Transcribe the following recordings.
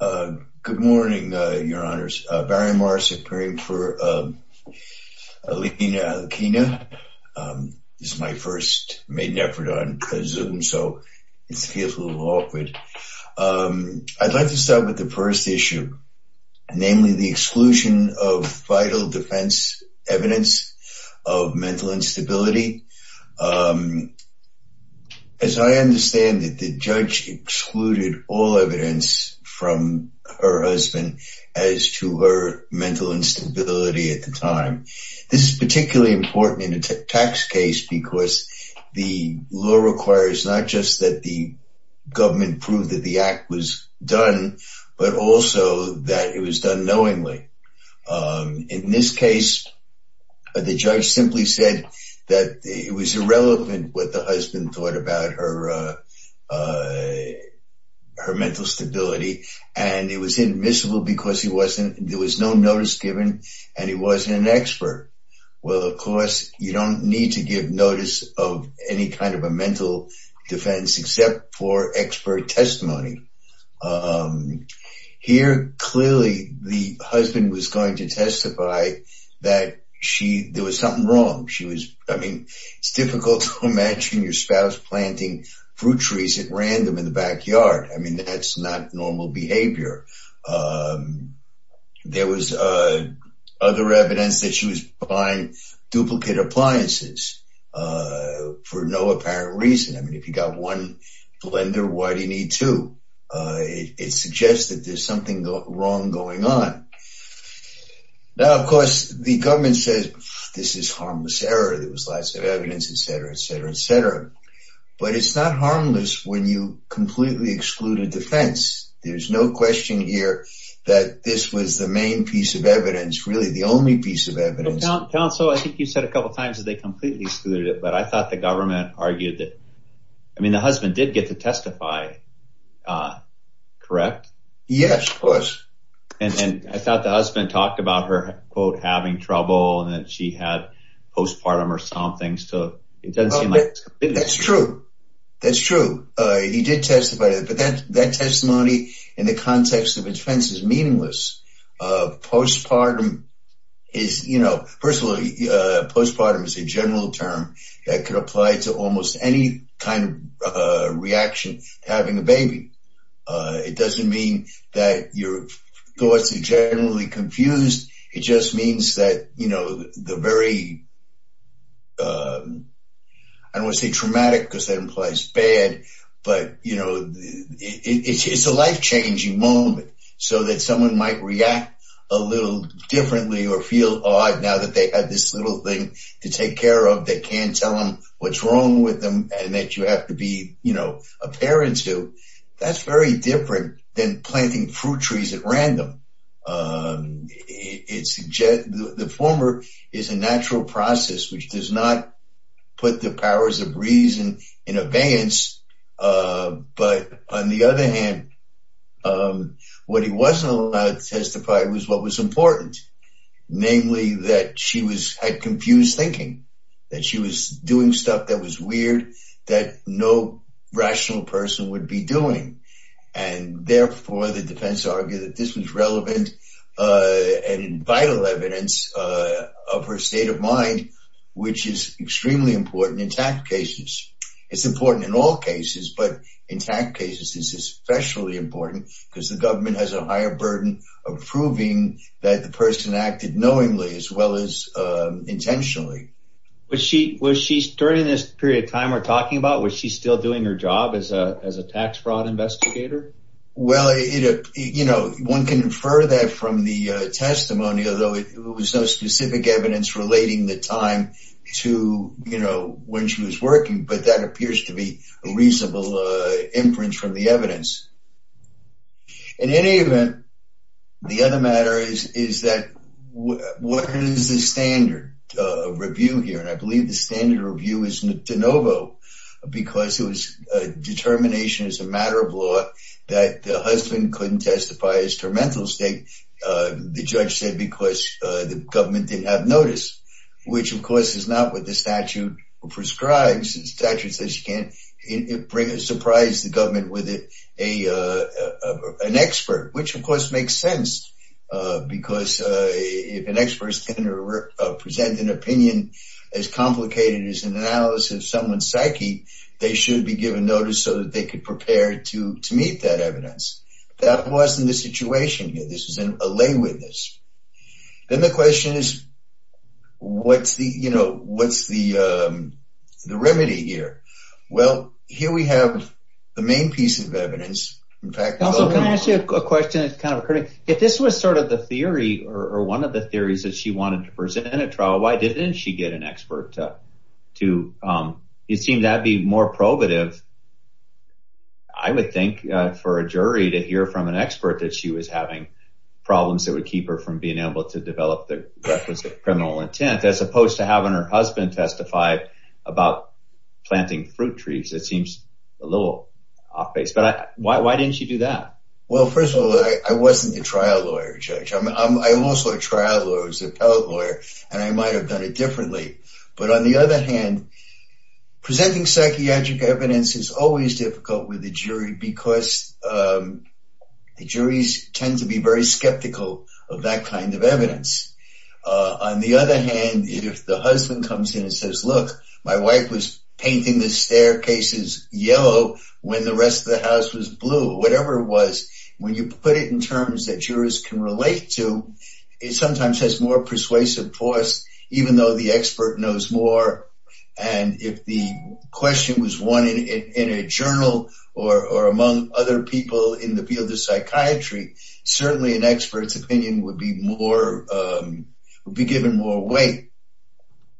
Good morning, your honors. Barry Morris appearing for Alena Aleykina. This is my first maiden effort on Zoom, so it feels a little awkward. I'd like to start with the first issue, namely the exclusion of vital defense evidence of mental instability from her husband as to her mental instability at the time. This is particularly important in a tax case because the law requires not just that the government prove that the act was done, but also that it was done knowingly. In this case, the judge simply said that it was irrelevant what the husband thought about her her mental stability, and it was inadmissible because there was no notice given, and he wasn't an expert. Well, of course, you don't need to give notice of any kind of a mental defense except for expert testimony. Here, clearly, the husband was going to testify that there was something wrong. It's difficult to imagine your spouse planting fruit trees at random in the backyard. I mean, that's not normal behavior. There was other evidence that she was buying duplicate appliances for no apparent reason. I mean, if you got one blender, why do you need two? It suggests that there's something wrong going on. Now, of course, the government says, this is harmless error. There was lots of evidence, etc., etc., etc., but it's not harmless when you completely exclude a defense. There's no question here that this was the main piece of evidence, really the only piece of evidence. Counsel, I think you said a couple times that they completely excluded it, but I thought the government argued that, I did get to testify, correct? Yes, of course. And I thought the husband talked about her, quote, having trouble and that she had postpartum or something, so it doesn't seem like... That's true. That's true. He did testify, but that testimony in the context of defense is meaningless. Postpartum is, you know... First of all, postpartum is a general term that could apply to almost any kind of reaction to having a baby. It doesn't mean that your thoughts are generally confused. It just means that, you know, the very... I don't want to say traumatic, because that implies bad, but, you know, it's a life-changing moment, so that someone might react a little differently or feel odd now that they had this little thing to take care of. They can't tell them what's wrong with them and that you have to be, you know, a parent to. That's very different than planting fruit trees at random. The former is a natural process which does not put the powers of reason in abeyance, but on the other hand, what he wasn't allowed to testify was what was important, namely that she had confused thinking, that she was doing stuff that was weird that no rational person would be doing, and therefore the defense argued that this was relevant and vital evidence of her state of mind, which is extremely important in tax cases. It's important in all cases, but in tax cases, this is especially important because the government has a higher burden of proving that the person acted knowingly as well as intentionally. Was she, during this period of time we're talking about, was she still doing her job as a tax fraud investigator? Well, you know, one can infer that from the testimony, although it was no specific evidence relating the time to, you know, when she was working, but that appears to be a reasonable inference from the evidence. In any event, the other matter is that what is the standard review here? And I believe the standard review is de novo because it was a determination as a matter of law that the husband couldn't testify as to her mental state. The judge said because the government didn't have notice, which of course is not what the statute prescribes. The statute says you can't surprise the government with an expert, which of course makes sense because if an expert is going to present an opinion as complicated as an analysis of someone's psyche, they should be given notice so that they could prepare to meet that evidence. That wasn't the situation here. This is a lay witness. Then the question is, what's the, you know, what's the remedy here? Well, here we have the main piece of evidence. Also, can I ask you a question that's kind of a critic? If this was sort of the theory or one of the theories that she wanted to present in a trial, why didn't she get an expert to, it seemed that'd be more probative, I would think, for a jury to hear from an expert. I mean, there's a lot of problems that would keep her from being able to develop the requisite criminal intent, as opposed to having her husband testify about planting fruit trees. It seems a little off-base, but why didn't you do that? Well, first of all, I wasn't the trial lawyer, Judge. I'm also a trial lawyer, as an appellate lawyer, and I might have done it differently, but on the other hand, presenting psychiatric evidence is always difficult with the jury because the juries tend to be very skeptical of that kind of evidence. On the other hand, if the husband comes in and says, look, my wife was painting the staircases yellow when the rest of the house was blue, whatever it was, when you put it in terms that jurors can relate to, it sometimes has more persuasive force, even though the expert knows more, and if the question was won in a journal or among other people in the field of psychiatry, certainly an expert's opinion would be given more weight,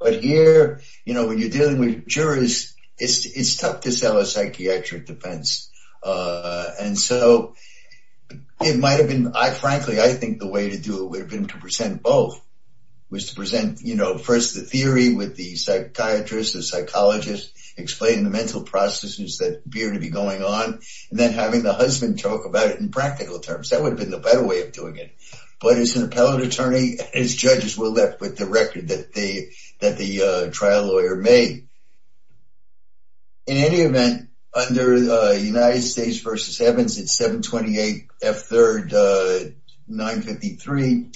but here, when you're dealing with jurors, it's tough to sell a psychiatric defense, and so it might have been, frankly, I think the way to do it would have been to present both, was to present first the theory with the psychiatrist, the psychologist, explaining the mental processes that appear to be going on, and then having the husband talk about it in practical terms. That would have been the better way of doing it, but as an appellate attorney, as judges, we're left with the record that the trial lawyer made. In any event, under United States v. Evans, it's 728 F3rd 953,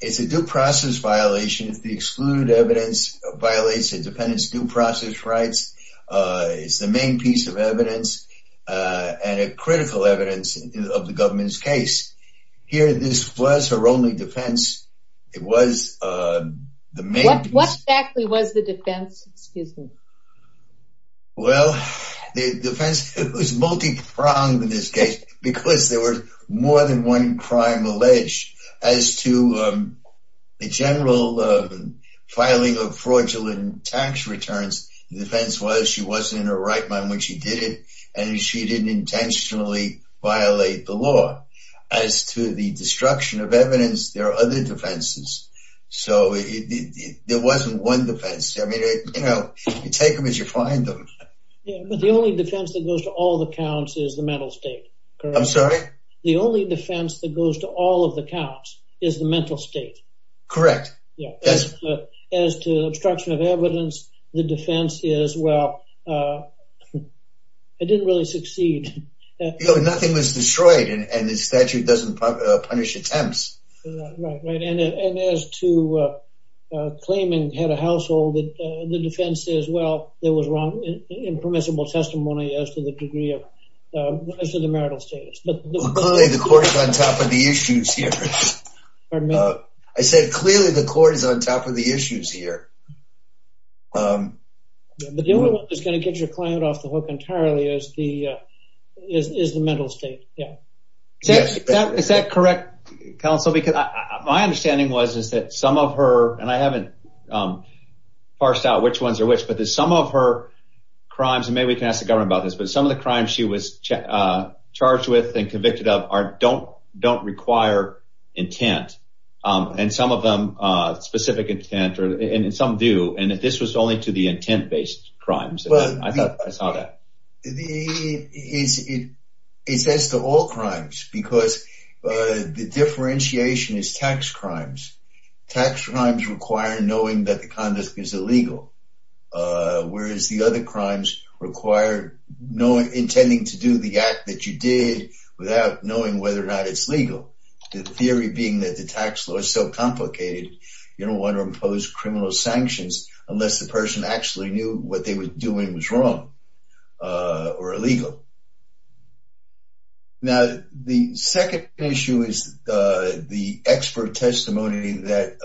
it's a due process violation if the excluded evidence violates the dependent's due process rights. It's the main piece of evidence, and a critical evidence of the government's case. Here, this was her only defense. It was the main piece. What exactly was the defense? Excuse me. Well, the defense was multi-pronged in this case, because there were more than one crime alleged. As to the general filing of fraudulent tax returns, the defense was she wasn't in her right mind when she did it, and she didn't intentionally violate the law. As to the destruction of evidence, there are other defenses, so there wasn't one defense. I mean, you know, you take them as you find them. Yeah, but the only defense that goes to all the counts is the mental state. I'm sorry? The only defense that goes to all of the counts is the mental state. Correct. As to obstruction of evidence, the defense is, well, it didn't really succeed. You know, nothing was destroyed, and the statute doesn't punish attempts. Right, and as to claiming head of household, the defense is, well, there was wrong, impermissible testimony as to the degree of, as to the marital status. Clearly the court is on top of the issues here. I said clearly the court is on top of the issues here. The only one that's going to get your client off the hook entirely is the mental state. Yeah. Is that correct, counsel? Because my understanding was is that some of her, and I haven't parsed out which ones are which, but there's some of her crimes, and maybe we can ask the government about this, but some of the crimes she was charged with and convicted of don't require intent, and some of them, specific intent, and some do, and this was only to the intent-based crimes. I thought I saw that. It says to all crimes, because the differentiation is tax crimes. Tax crimes require knowing that conduct is illegal, whereas the other crimes require knowing, intending to do the act that you did without knowing whether or not it's legal. The theory being that the tax law is so complicated, you don't want to impose criminal sanctions unless the person actually knew what they were doing was wrong or illegal. Now the second issue is the expert testimony that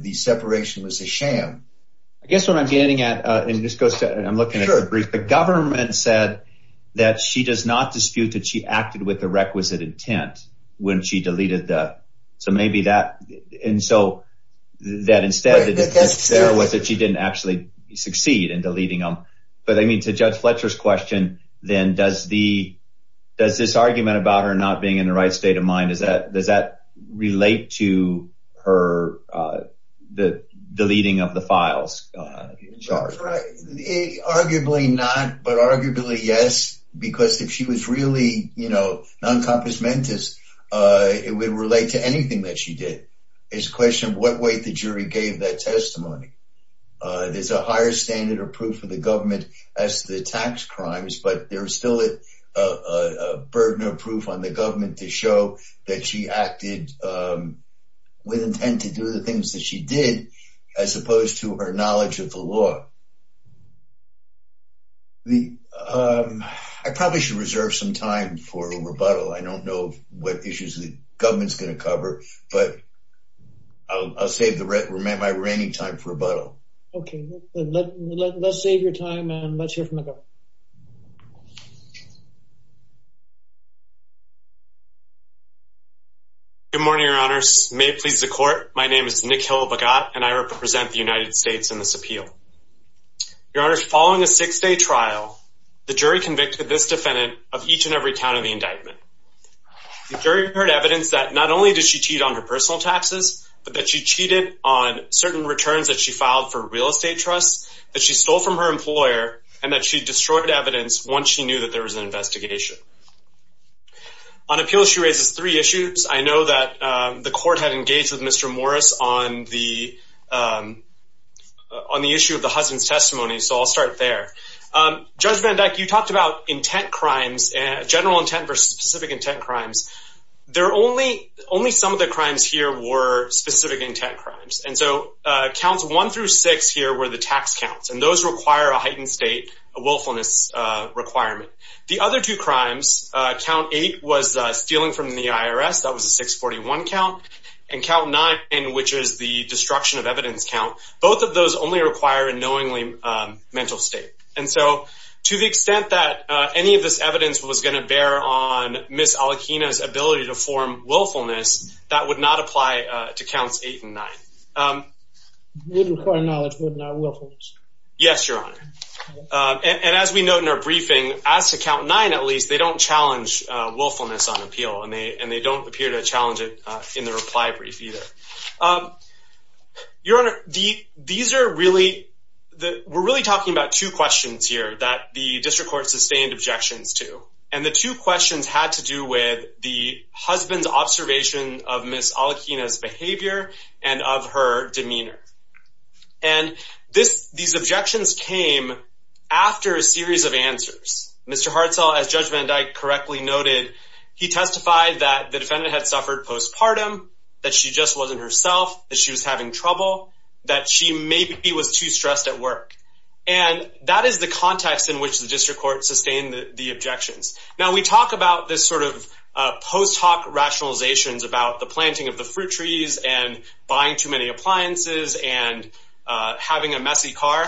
the separation was a sham. I guess what I'm getting at, and this goes to, I'm looking at a brief, the government said that she does not dispute that she acted with the requisite intent when she deleted the, so maybe that, and so that instead it was that she didn't actually succeed in deleting them, but I mean to Judge Fletcher's question, then does the, does this argument about her not being in the right state of mind, is that, does that relate to her, the deleting of the files? Arguably not, but arguably yes, because if she was really, you know, non-compensamentist, it would relate to anything that she did. It's a question of what weight the jury gave that testimony. There's a higher standard of proof for the government as to the tax crimes, but there's still a burden of proof on the government to show that she acted with intent to do the things that she did, as opposed to her knowledge of the law. I probably should reserve some time for a rebuttal. I don't know what issues the government's gonna cover, but I'll save my reigning time for rebuttal. Okay, let's save your time and let's hear from the government. Good morning, your honors. May it please the court, my name is Nick Hill-Bagot, and I represent the United States in this appeal. Your honors, following a six-day trial, the jury convicted this defendant of each and every count of the indictment. The jury heard evidence that not only did she cheat on her personal taxes, but that she cheated on certain returns that she filed for real estate trusts, that she stole from her employer, and that she destroyed evidence once she filed the appeal. She raises three issues. I know that the court had engaged with Mr. Morris on the issue of the husband's testimony, so I'll start there. Judge Van Dyke, you talked about intent crimes, general intent versus specific intent crimes. Only some of the crimes here were specific intent crimes, and so counts one through six here were the tax counts, and those require a heightened state willfulness requirement. The other two crimes, count eight was stealing from the IRS, that was a 641 count, and count nine, which is the destruction of evidence count, both of those only require a knowingly mental state. And so to the extent that any of this evidence was going to bear on Ms. Alikina's ability to form willfulness, that would not apply to counts eight and nine. Yes, your honor. And as we note in our briefing, as to count nine at least, they don't challenge willfulness on appeal, and they don't appear to challenge it in the reply brief either. Your honor, these are really, we're really talking about two questions here that the district court sustained objections to, and the two questions had to do with the husband's observation of Ms. Alikina's behavior and of her demeanor. And these objections came after a series of answers. Mr. Hartzell, as Judge Van Dyke correctly noted, he testified that the defendant had suffered postpartum, that she just wasn't herself, that she was having trouble, that she maybe was too stressed at work. And that is the context in which the district court sustained the objections. Now we talk about this sort of post hoc rationalizations about the planting of the fruit trees and buying too many appliances and having a messy car.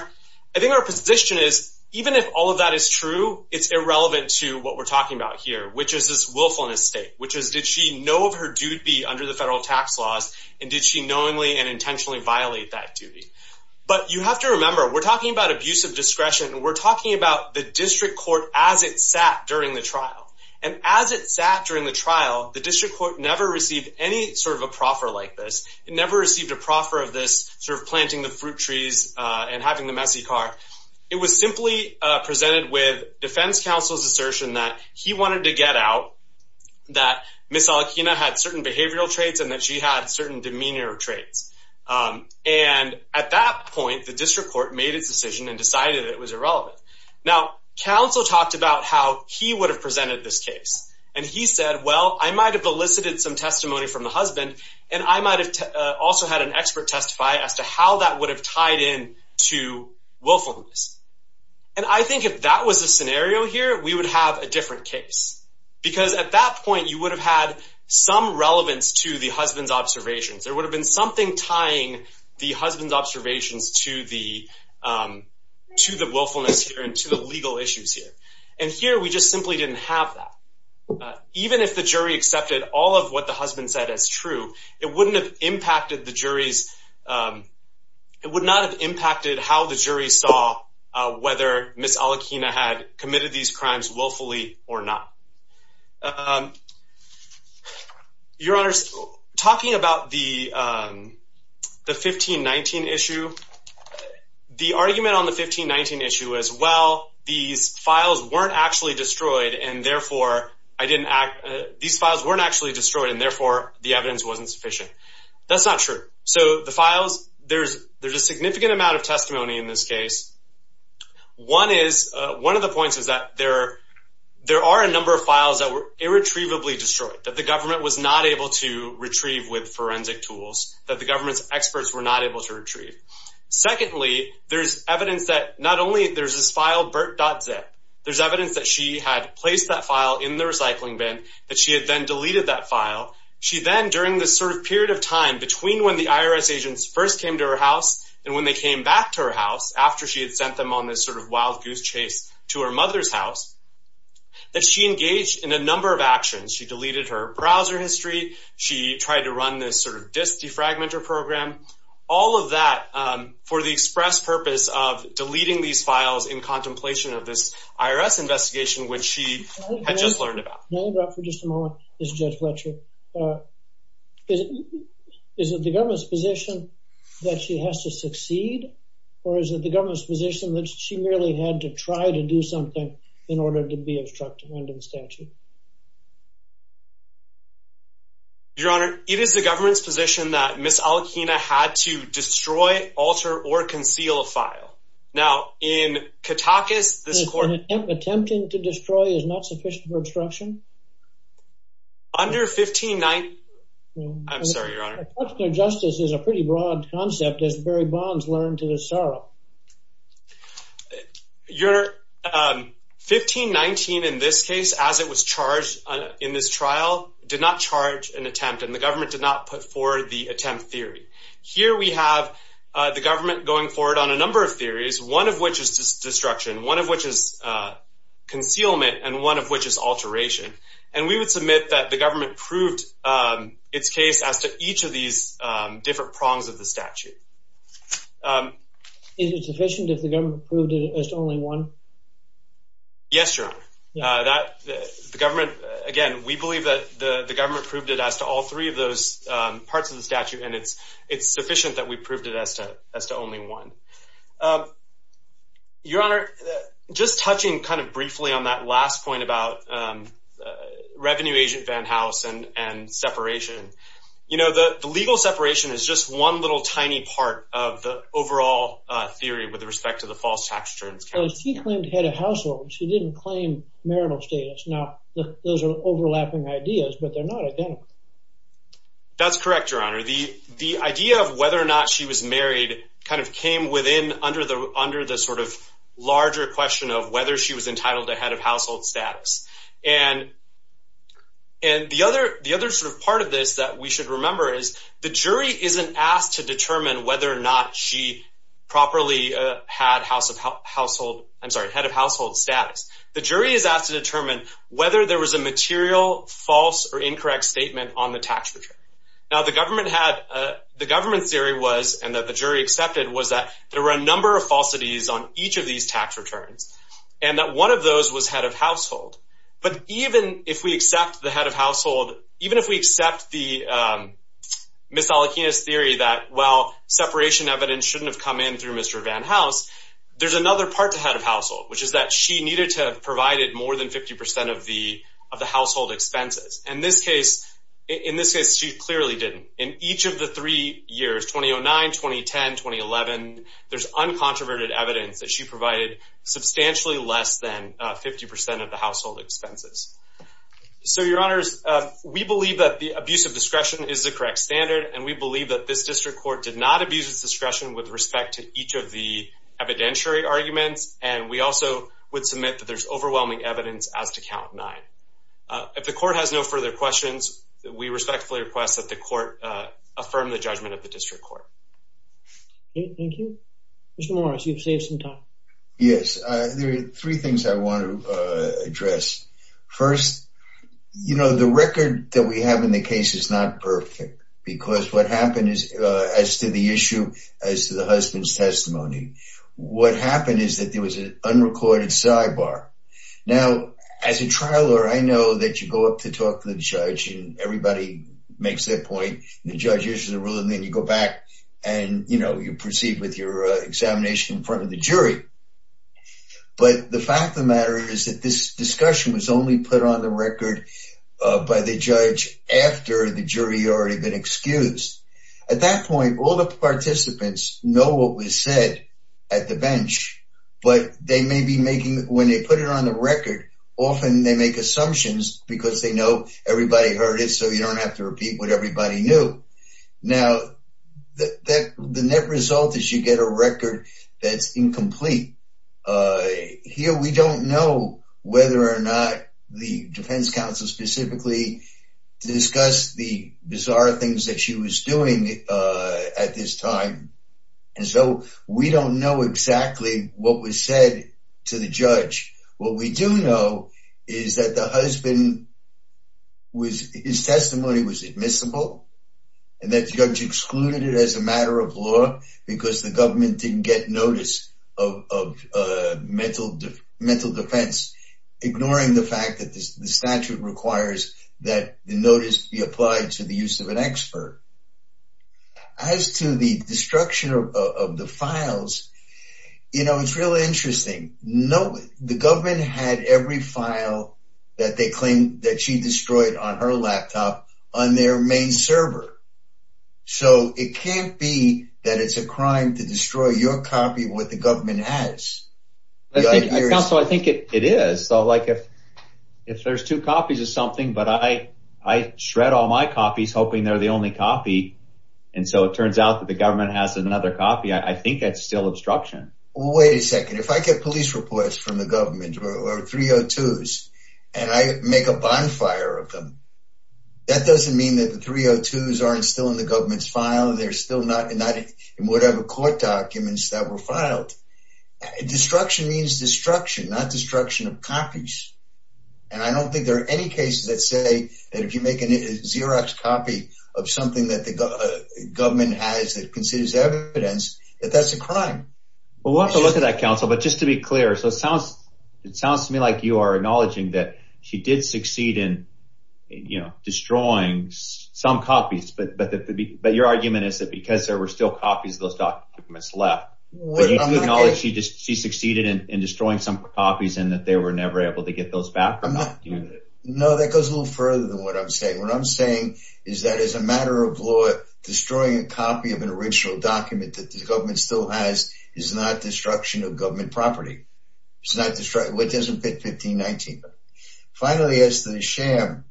I think our position is, even if all of that is true, it's irrelevant to what we're talking about here, which is this willfulness state, which is, did she know of her duty under the federal tax laws, and did she knowingly and intentionally violate that duty? But you have to remember, we're talking about abusive discretion, and we're talking about the district court as it sat during the trial. And as it sat during the trial, the district court never received any sort of a proffer like this. It never received a proffer of this sort of planting the it was simply presented with defense counsel's assertion that he wanted to get out that Miss Alakena had certain behavioral traits and that she had certain demeanor traits. Um, and at that point, the district court made its decision and decided it was irrelevant. Now, counsel talked about how he would have presented this case, and he said, Well, I might have elicited some testimony from the husband, and I might have also had an expert testify as to how that would have tied in to willfulness. And I think if that was a scenario here, we would have a different case, because at that point, you would have had some relevance to the husband's observations. There would have been something tying the husband's observations to the, um, to the willfulness here and to the legal issues here. And here we just simply didn't have that. Even if the jury accepted all of what the husband said as true, it wouldn't have impacted the jury's. Um, it would not have impacted how the jury saw whether Miss Alakena had committed these crimes willfully or not. Um, your honors talking about the, um, the 15 19 issue, the argument on the 15 19 issue as well. These files weren't actually destroyed, and therefore I evidence wasn't sufficient. That's not true. So the files there's there's a significant amount of testimony in this case. One is one of the points is that there there are a number of files that were irretrievably destroyed that the government was not able to retrieve with forensic tools that the government's experts were not able to retrieve. Secondly, there's evidence that not only there's this file Bert dot zip, there's evidence that she had placed that file in the recycling bin that she had then deleted that file. She then, during this sort of period of time between when the IRS agents first came to her house and when they came back to her house after she had sent them on this sort of wild goose chase to her mother's house, that she engaged in a number of actions. She deleted her browser history. She tried to run this sort of disk defragmenter program. All of that for the express purpose of deleting these files in learned about for just a moment is Judge Fletcher. Uh, is it? Is it the government's position that she has to succeed? Or is it the government's position that she really had to try to do something in order to be obstructed under the statute? Your Honor, it is the government's position that Miss Alakena had to destroy, alter or conceal a file. Now, in Katakis, this court attempting to destruction under 15 9. I'm sorry, Your Honor. Justice is a pretty broad concept is very bonds learned to the sorrow. Your, um, 15 19 in this case, as it was charged in this trial, did not charge an attempt, and the government did not put forward the attempt theory. Here we have the government going forward on a number of theories, one of which is destruction, one of which is, uh, concealment and one of which is alteration. And we would submit that the government proved its case as to each of these different prongs of the statute. Is it sufficient if the government proved it as only one? Yes, Your Honor, that the government again, we believe that the government proved it as to all three of those parts of the statute, and it's it's sufficient that we proved it as to as to only one. Your Honor, just touching kind of briefly on that last point about, um, revenue agent van house and and separation. You know, the legal separation is just one little tiny part of the overall theory with respect to the false tax returns. She claimed had a household. She didn't claim marital status. Now, those are overlapping ideas, but they're not again. That's correct, Your Honor. The idea of whether or not she was married kind of larger question of whether she was entitled to head of household status. And and the other the other sort of part of this that we should remember is the jury isn't asked to determine whether or not she properly had house of household. I'm sorry. Head of household status. The jury is asked to determine whether there was a material false or incorrect statement on the tax return. Now, the government had the government theory was and that the jury accepted was that there were a number of falsities on each of these tax returns and that one of those was head of household. But even if we accept the head of household, even if we accept the, um, Miss Alakina's theory that, well, separation evidence shouldn't have come in through Mr Van house. There's another part to head of household, which is that she needed to provided more than 50% of the of the household expenses. In this case, in each of the three years, 2009 2010 2011, there's uncontroverted evidence that she provided substantially less than 50% of the household expenses. So your honors, we believe that the abuse of discretion is the correct standard, and we believe that this district court did not abuse its discretion with respect to each of the evidentiary arguments. And we also would submit that there's overwhelming evidence as to count nine. If the court has no further questions, we respectfully request that the court affirm the judgment of the district court. Thank you, Mr Morris. You've saved some time. Yes, there are three things I want to address. First, you know, the record that we have in the case is not perfect because what happened is as to the issue as to the husband's testimony. What happened is that there was an unrecorded sidebar. Now, as a judge, everybody makes their point. The judge issues a rule, and then you go back and, you know, you proceed with your examination in front of the jury. But the fact of the matter is that this discussion was only put on the record by the judge after the jury already been excused. At that point, all the participants know what was said at the bench, but they may be making when they heard it so you don't have to repeat what everybody knew. Now, the net result is you get a record that's incomplete. Here, we don't know whether or not the defense counsel specifically discuss the bizarre things that she was doing at this time. And so we don't know exactly what was said to the judge. What we do know is that the husband, his testimony was admissible, and that judge excluded it as a matter of law because the government didn't get notice of mental defense, ignoring the fact that the statute requires that the notice be applied to the use of an expert. As to the destruction of the files, you know, it's really interesting. No, the government had every file that they claim that she destroyed on her laptop on their main server. So it can't be that it's a crime to destroy your copy with the government has. I think so. I think it is. So like if if there's two copies of something, but I I shred all my copies, hoping they're the only copy. And so it turns out that the government has another copy. I think that's still obstruction. Wait a second. If I get police reports from the government or 302s, and I make a bonfire of them, that doesn't mean that the 302s aren't still in the government's file. They're still not in whatever court documents that were filed. Destruction means destruction, not destruction of copies. And I don't think there are any cases that say that if you make a Xerox copy of something that the government has that considers evidence that that's a crime. We'll have to look at that, counsel. But just to be clear, so it sounds it sounds to me like you are acknowledging that she did succeed in, you know, destroying some copies. But your argument is that because there were still copies of those documents left, you acknowledge she just she succeeded in destroying some copies and that they were never able to get those back? No, that goes a little further than what I'm saying. What I'm saying is that as a matter of law, destroying a copy of an original document that the government still has is not destruction of government property. It's not destroyed. What doesn't fit 1519? Finally, as to the sham,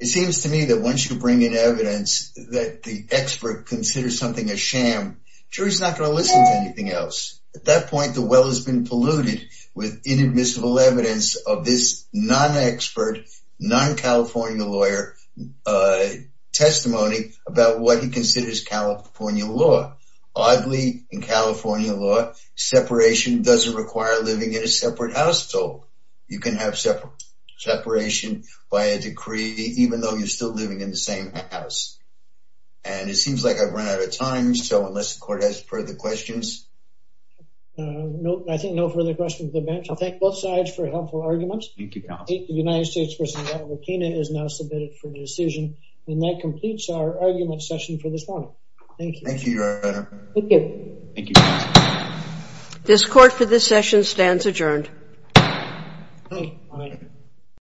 it seems to me that once you bring in evidence that the expert considers something a sham, jury's not going to listen to anything else. At that point, the well has been polluted with inadmissible evidence of this non expert, non California lawyer a testimony about what he considers California law. Oddly, in California law, separation doesn't require living in a separate house. So you can have separate separation by a decree, even though you're still living in the same house. And it seems like I've run out of time. So unless the court has further questions, no, I think no further questions of the bench. I think both sides for helpful arguments. Thank you. The United States President, Robert Pena, is now submitted for the decision, and that completes our argument session for this morning. Thank you. Thank you. Thank you. Thank you. This court for this session stands adjourned.